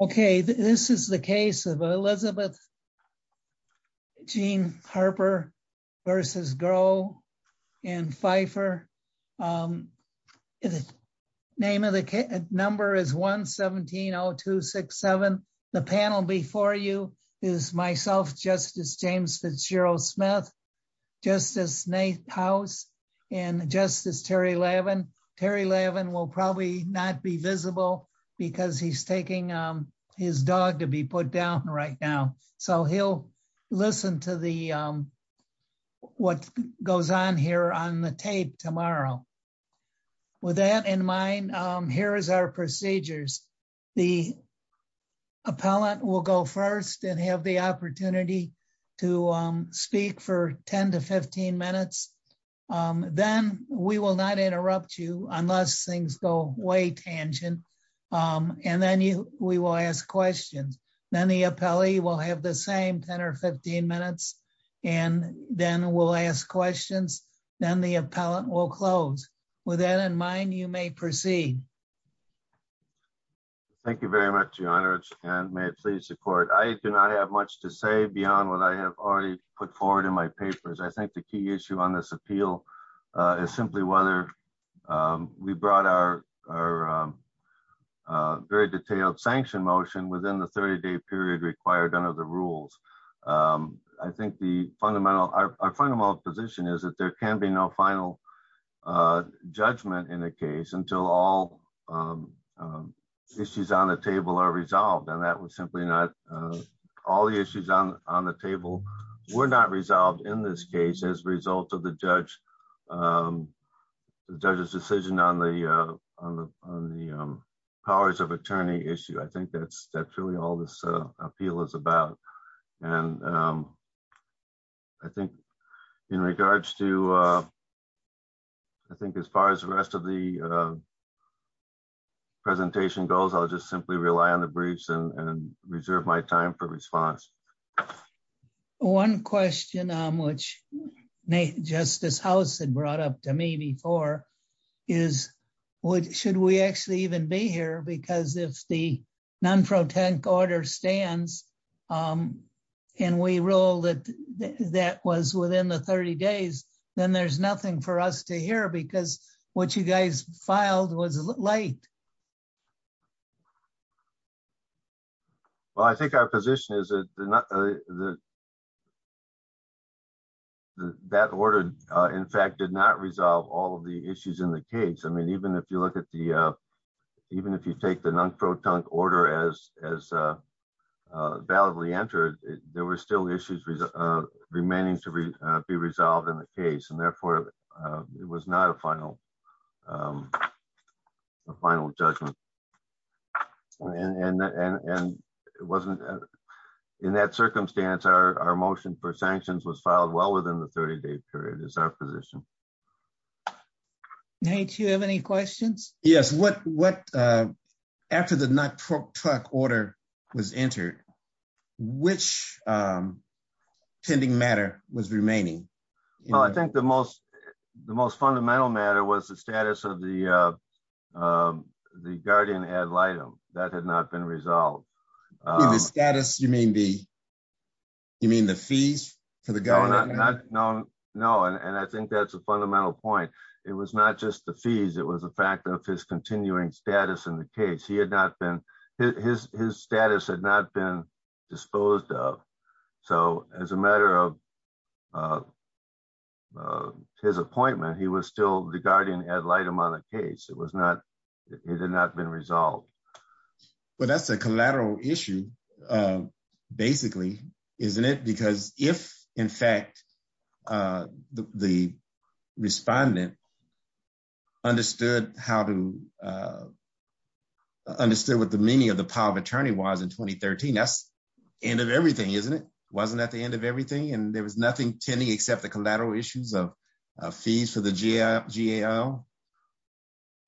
Okay, this is the case of Elizabeth Jean Harper versus Groh and Pfeiffer. Name of the number is 1170267. The panel before you is myself, Justice James Fitzgerald Smith, Justice Nathouse, and Justice Terry Levin. Terry Levin will probably not be visible because he's taking his dog to be put down right now. So he'll listen to what goes on here on the tape tomorrow. With that in mind, here is our procedures. The appellant will go first and have the opportunity to speak for 10 to 15 minutes. Then we will not interrupt you unless things go way tangent. And then we will ask questions. Then the appellee will have the same 10 or 15 minutes and then we'll ask questions. Then the appellant will close. With that in mind, you may proceed. Thank you very much, Your Honor, and may I please report. I do not have much to say beyond what I have already put forward in my papers. I think the key issue on this appeal is simply whether we brought our very detailed sanction motion within the 30-day period required under the rules. I think our fundamental position is that there can be no final judgment in a case until all issues on the table are resolved. And that was simply not, all the issues on the table were not resolved in this case as a result of the judge's decision on the powers of attorney issue. I think that's really all this appeal is about. And I think in regards to, I think as far as the rest of the presentation goes, I'll just simply rely on the briefs and reserve my time for response. One question which Justice House had brought up to me before is should we actually even be here? Because if the non-fraud tank order stands and we rule that that was within the 30 days, then there's nothing for us to hear because what you guys filed was late. Well, I think our position is that that order, in fact, did not resolve all of the issues in the case. I mean, even if you look at the, even if you take the non-fraud tank order as validly entered, there were still issues remaining to be resolved in the case. And therefore, it was not a final judgment. And it wasn't, in that circumstance, our motion for sanctions was filed well within the 30 day period is our position. Nate, do you have any questions? Yes, what, after the non-fraud tank order was entered, which pending matter was remaining? Well, I think the most fundamental matter was the status of the guardian ad litem. That had not been resolved. You mean the status, you mean the fees for the guardian? No, and I think that's a fundamental point. It was not just the fees. It was the fact of his continuing status in the case. He had not been, his status had not been disposed of. So as a matter of his appointment, he was still the guardian ad litem on the case. It was not, it had not been resolved. Well, that's a collateral issue, basically, isn't it? Because if in fact the respondent understood how to, understood what the meaning of the power of attorney was in 2013, that's end of everything, isn't it? Wasn't that the end of everything? And there was nothing tending except the collateral issues of fees for the GAO?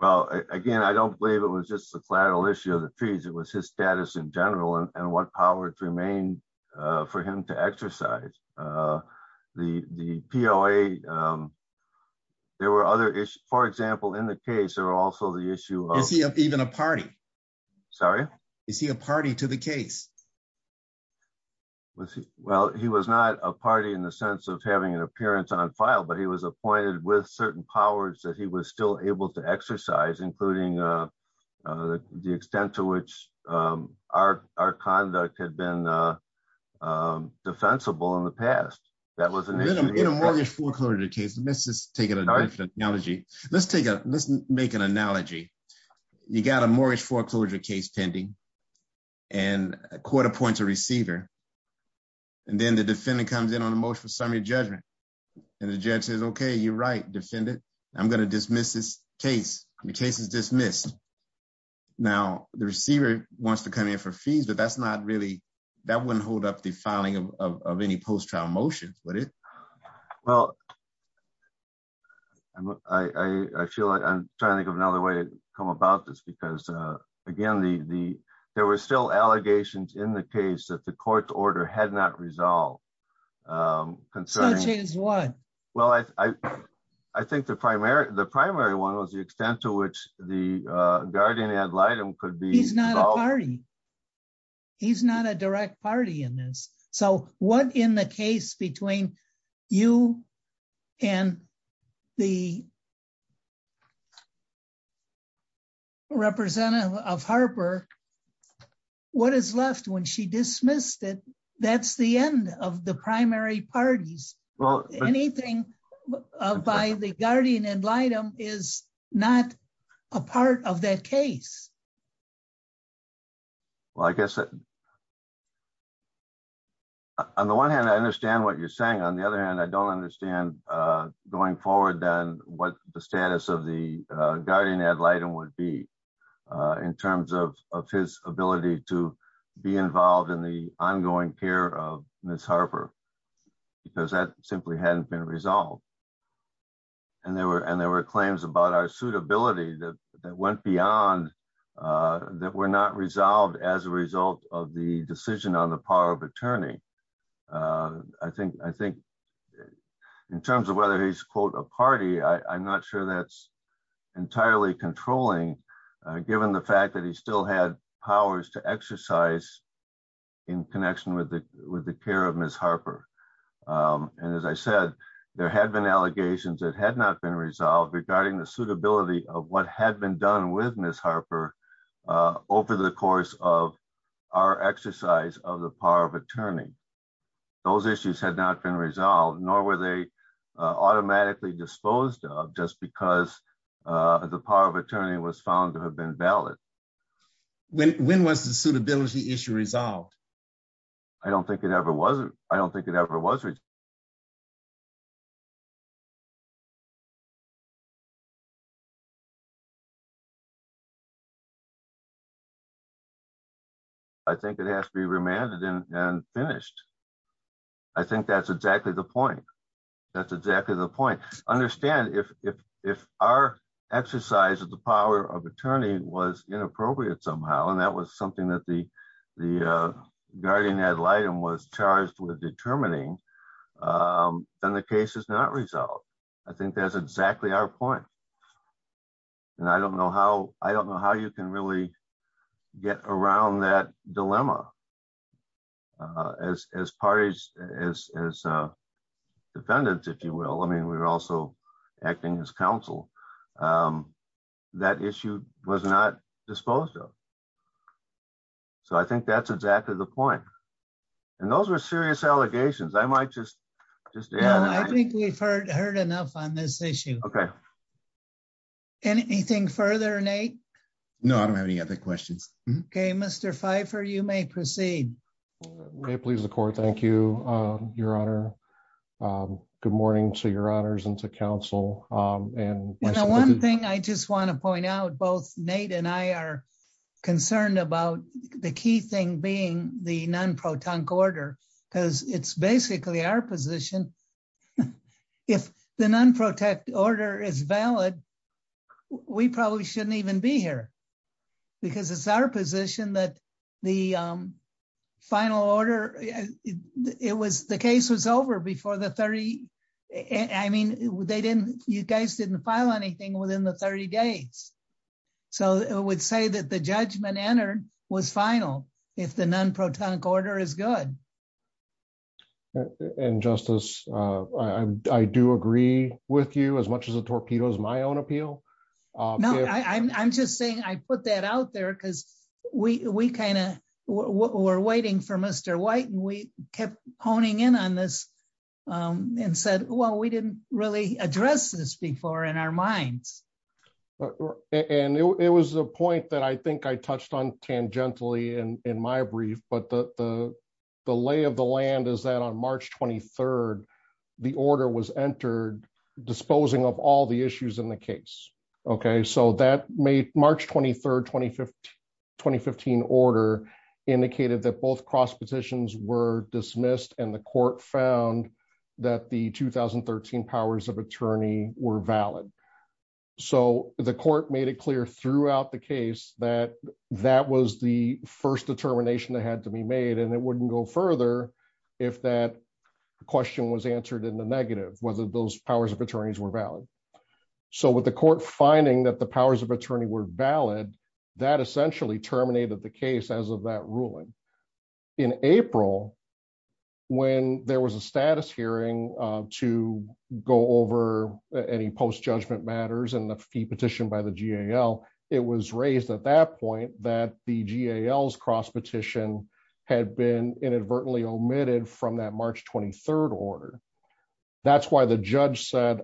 Well, again, I don't believe it was just the collateral issue of the fees. It was his status in general and what power to remain for him to exercise. The POA, there were other issues. For example, in the case, there were also the issue of- Is he even a party? Sorry? Is he a party to the case? Well, he was not a party in the sense of having an appearance on file, but he was appointed with certain powers that he was still able to exercise, including the extent to which our conduct had been defensible in the past. That was an issue- In a mortgage foreclosure case, let's just take an analogy. Let's make an analogy. You got a mortgage foreclosure case pending and court appoints a receiver, and then the defendant comes in on a motion for summary judgment, and the judge says, okay, you're right, defendant. I'm gonna dismiss this case. The case is dismissed. Now, the receiver wants to come in for fees, but that's not really, that wouldn't hold up the filing of any post-trial motions, would it? Well, I feel like I'm trying to think of another way to come about this, because again, there were still allegations in the case that the court's order had not resolved. Concerns- So, James, what? Well, I think the primary one was the extent to which the guardian ad litem could be- He's not a party. He's not a direct party in this. So, what in the case between you and the representative of Harper, what is left when she dismissed it? That's the end of the primary parties. Well- Anything by the guardian ad litem is not a part of that case. Well, I guess, on the one hand, I understand what you're saying. On the other hand, I don't understand going forward then what the status of the guardian ad litem would be in terms of his ability to be involved in the ongoing care of Ms. Harper, because that simply hadn't been resolved. And there were claims about our suitability that went beyond, that were not resolved as a result of the decision on the power of attorney. I think in terms of whether he's, quote, a party, I'm not sure that's entirely controlling, given the fact that he still had powers to exercise in connection with the care of Ms. Harper. And as I said, there had been allegations that had not been resolved regarding the suitability of what had been done with Ms. Harper over the course of our exercise of the power of attorney. Those issues had not been resolved, nor were they automatically disposed of just because the power of attorney was found to have been valid. When was the suitability issue resolved? I don't think it ever was. I don't think it ever was. I think it has to be remanded and finished. I think that's exactly the point. That's exactly the point. Understand if our exercise of the power of attorney was inappropriate somehow, and that was something that the guardian ad litem was charged with determining, then the case is not resolved. I think that's exactly our point. And I don't know how you can really get around that dilemma. As parties, as defendants, if you will, I mean, we were also acting as counsel. That issue was not disposed of. So I think that's exactly the point. And those were serious allegations. I might just add- No, I think we've heard enough on this issue. Okay. Anything further, Nate? No, I don't have any other questions. Okay, Mr. Pfeiffer, you may proceed. May it please the court. Thank you, Your Honor. Good morning to Your Honors and to counsel. And- You know, one thing I just want to point out, both Nate and I are concerned about the key thing being the non-protonc order, because it's basically our position. If the non-protect order is valid, we probably shouldn't even be here because it's our position that the final order, the case was over before the 30. I mean, they didn't, you guys didn't file anything within the 30 days. So it would say that the judgment entered was final if the non-protonic order is good. And Justice, I do agree with you as much as a torpedo is my own appeal. No, I'm just saying I put that out there because we kind of were waiting for Mr. White and we kept honing in on this and said, well, we didn't really address this before in our minds. And it was a point that I think I touched on tangentially in my brief, but the lay of the land is that on March 23rd, the order was entered disposing of all the issues in the case, okay? So that made March 23rd, 2015 order indicated that both cross petitions were dismissed and the court found that the 2013 powers of attorney were valid. So the court made it clear throughout the case that that was the first determination that had to be made. And it wouldn't go further if that question was answered in the negative, whether those powers of attorneys were valid. So with the court finding that the powers of attorney were valid, that essentially terminated the case as of that ruling. In April, when there was a status hearing to go over any post-judgment matters and the fee petition by the GAL, it was raised at that point that the GAL's cross petition had been inadvertently omitted from that March 23rd order. That's why the judge said,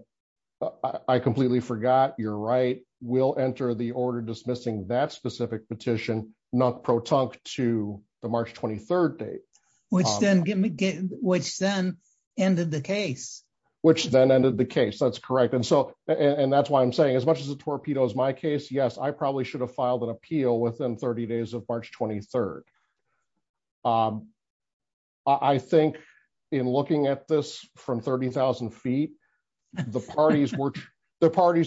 I completely forgot, you're right, we'll enter the order dismissing that specific petition not pro-tunk to the March 23rd date. Which then ended the case. Which then ended the case, that's correct. And so, and that's why I'm saying as much as the torpedo is my case, yes, I probably should have filed an appeal within 30 days of March 23rd. I think in looking at this from 30,000 feet, the parties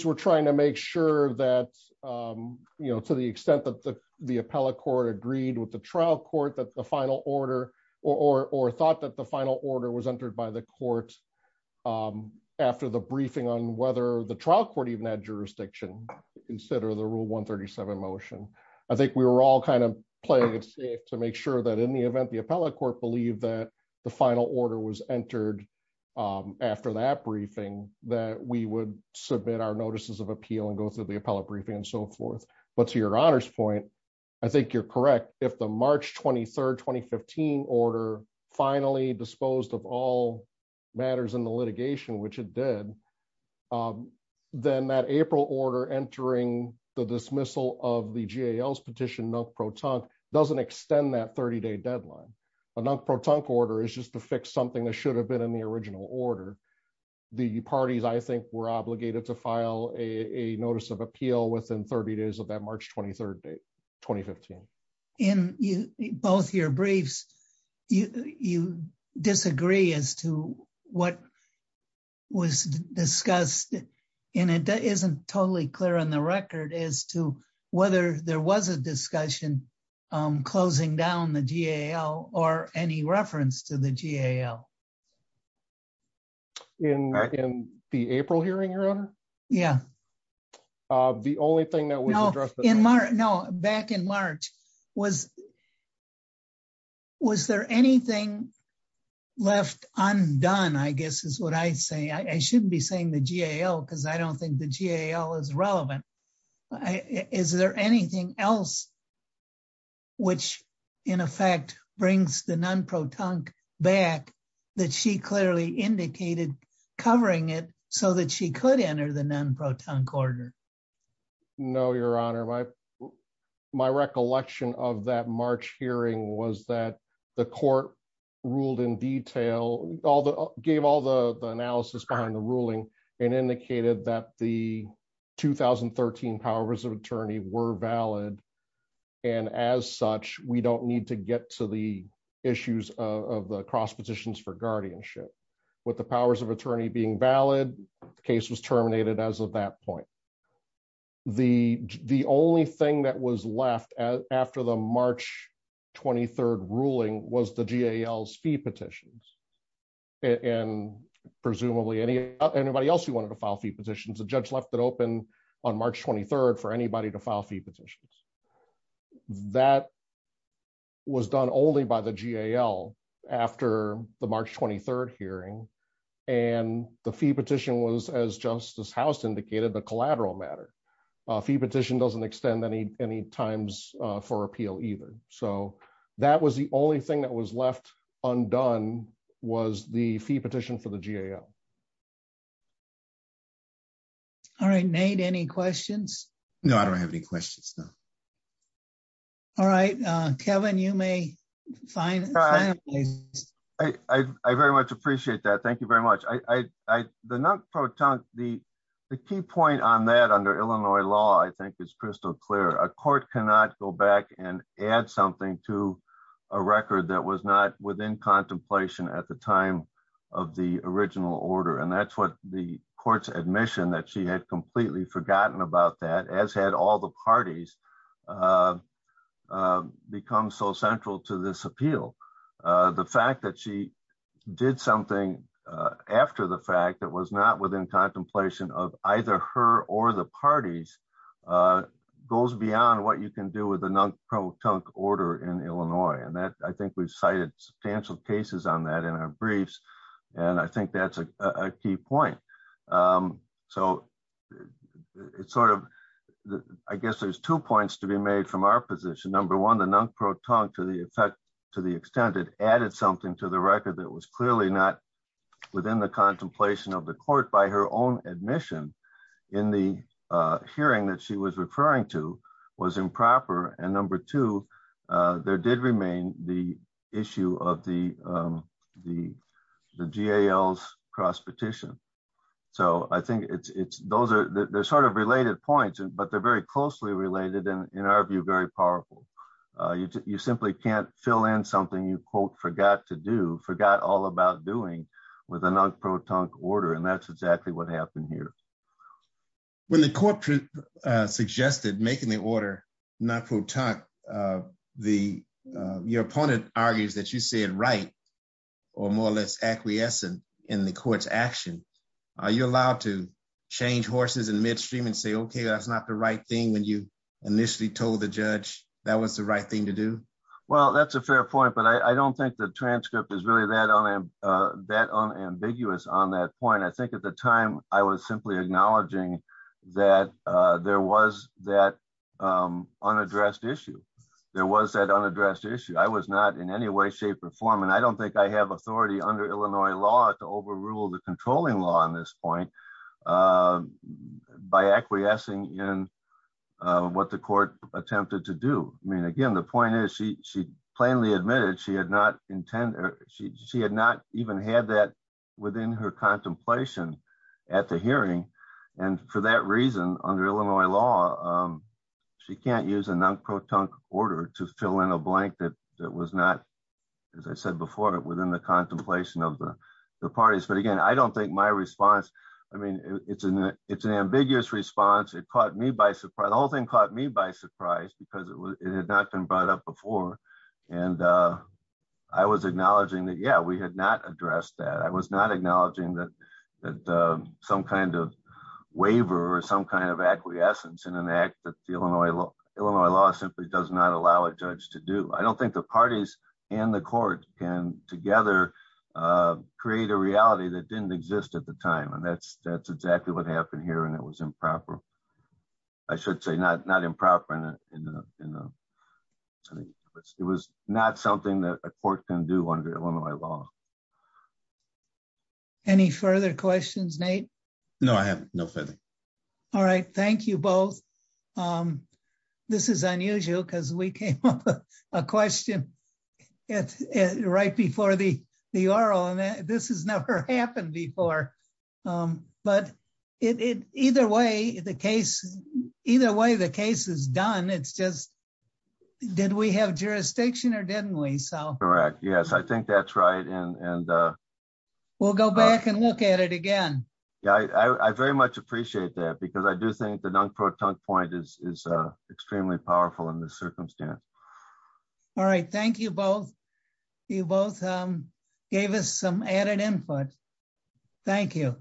were trying to make sure that, to the extent that the appellate court agreed with the trial court that the final order, or thought that the final order was entered by the court after the briefing on whether the trial court even had jurisdiction, instead of the rule 137 motion. I think we were all kind of playing it safe to make sure that in the event the appellate court believed that the final order was entered after that briefing that we would submit our notices of appeal and go through the appellate briefing and so forth. But to your honor's point, I think you're correct. If the March 23rd, 2015 order finally disposed of all matters in the litigation, which it did, then that April order entering the dismissal of the GAL's petition not pro-tunk doesn't extend that 30 day deadline. A non-pro-tunk order is just to fix something that should have been in the original order. The parties, I think, were obligated to file a notice of appeal within 30 days of that March 23rd date, 2015. In both your briefs, you disagree as to what was discussed and it isn't totally clear on the record as to whether there was a discussion closing down the GAL or any reference to the GAL. In the April hearing, your honor? Yeah. The only thing that was addressed- No, back in March, was there anything left undone, I guess is what I say. I shouldn't be saying the GAL because I don't think the GAL is relevant. Is there anything else which in effect brings the non-pro-tunk back that she clearly indicated covering it so that she could enter the non-pro-tunk order? No, your honor. My recollection of that March hearing was that the court ruled in detail, gave all the analysis behind the ruling and indicated that the 2013 powers of attorney were valid. And as such, we don't need to get to the issues of the cross petitions for guardianship. With the powers of attorney being valid, the case was terminated as of that point. The only thing that was left after the March 23rd ruling was the GAL's fee petitions. And presumably anybody else who wanted to file fee petitions, the judge left it open on March 23rd for anybody to file fee petitions. That was done only by the GAL after the March 23rd hearing. And the fee petition was as Justice House indicated, the collateral matter. Fee petition doesn't extend any times for appeal either. So that was the only thing that was left undone was the fee petition for the GAL. All right, Nate, any questions? No, I don't have any questions, no. All right, Kevin, you may finalize. I very much appreciate that. Thank you very much. The non-pro-tunk, the key point on that under Illinois law, I think is crystal clear. A court cannot go back and add something to a record that was not within contemplation at the time of the original order. And that's what the court's admission that she had completely forgotten about that as had all the parties become so central to this appeal. The fact that she did something after the fact that was not within contemplation of either her or the parties goes beyond what you can do with a non-pro-tunk order in Illinois. And that I think we've cited substantial cases on that in our briefs. And I think that's a key point. So it's sort of, I guess there's two points to be made from our position. Number one, the non-pro-tunk to the extent it added something to the record that was clearly not within the contemplation of the court by her own admission in the hearing that she was referring to was improper. And number two, there did remain the issue of the GAL's cross petition. So I think it's, those are, they're sort of related points but they're very closely related and in our view, very powerful. You simply can't fill in something you quote, forgot to do, forgot all about doing with a non-pro-tunk order. And that's exactly what happened here. When the court suggested making the order, not pro-tunk, your opponent argues that you said, right or more or less acquiescent in the court's action. Are you allowed to change horses in midstream and say, okay, that's not the right thing when you initially told the judge that was the right thing to do? Well, that's a fair point, but I don't think the transcript is really that unambiguous on that point. And I think at the time I was simply acknowledging that there was that unaddressed issue. There was that unaddressed issue. I was not in any way, shape or form. And I don't think I have authority under Illinois law to overrule the controlling law on this point by acquiescing in what the court attempted to do. I mean, again, the point is she plainly admitted she had not intended, she had not even had that within her contemplation at the hearing. And for that reason, under Illinois law, she can't use a non-pro-tunk order to fill in a blank that was not, as I said before, within the contemplation of the parties. But again, I don't think my response, I mean, it's an ambiguous response. It caught me by surprise. The whole thing caught me by surprise because it had not been brought up before. And I was acknowledging that, yeah, we had not addressed that. I was not acknowledging that some kind of waiver or some kind of acquiescence in an act that the Illinois law simply does not allow a judge to do. I don't think the parties and the court can together create a reality that didn't exist at the time. And that's exactly what happened here. And it was improper. I should say not improper in the, it was not something that a court can do under Illinois law. Any further questions, Nate? No, I have no further. All right, thank you both. This is unusual because we came up with a question right before the oral, and this has never happened before. But either way, the case, either way the case is done, it's just, did we have jurisdiction or didn't we? Correct, yes, I think that's right. And- We'll go back and look at it again. Yeah, I very much appreciate that because I do think the non-proton point is extremely powerful in this circumstance. All right, thank you both. You both gave us some added input. Thank you.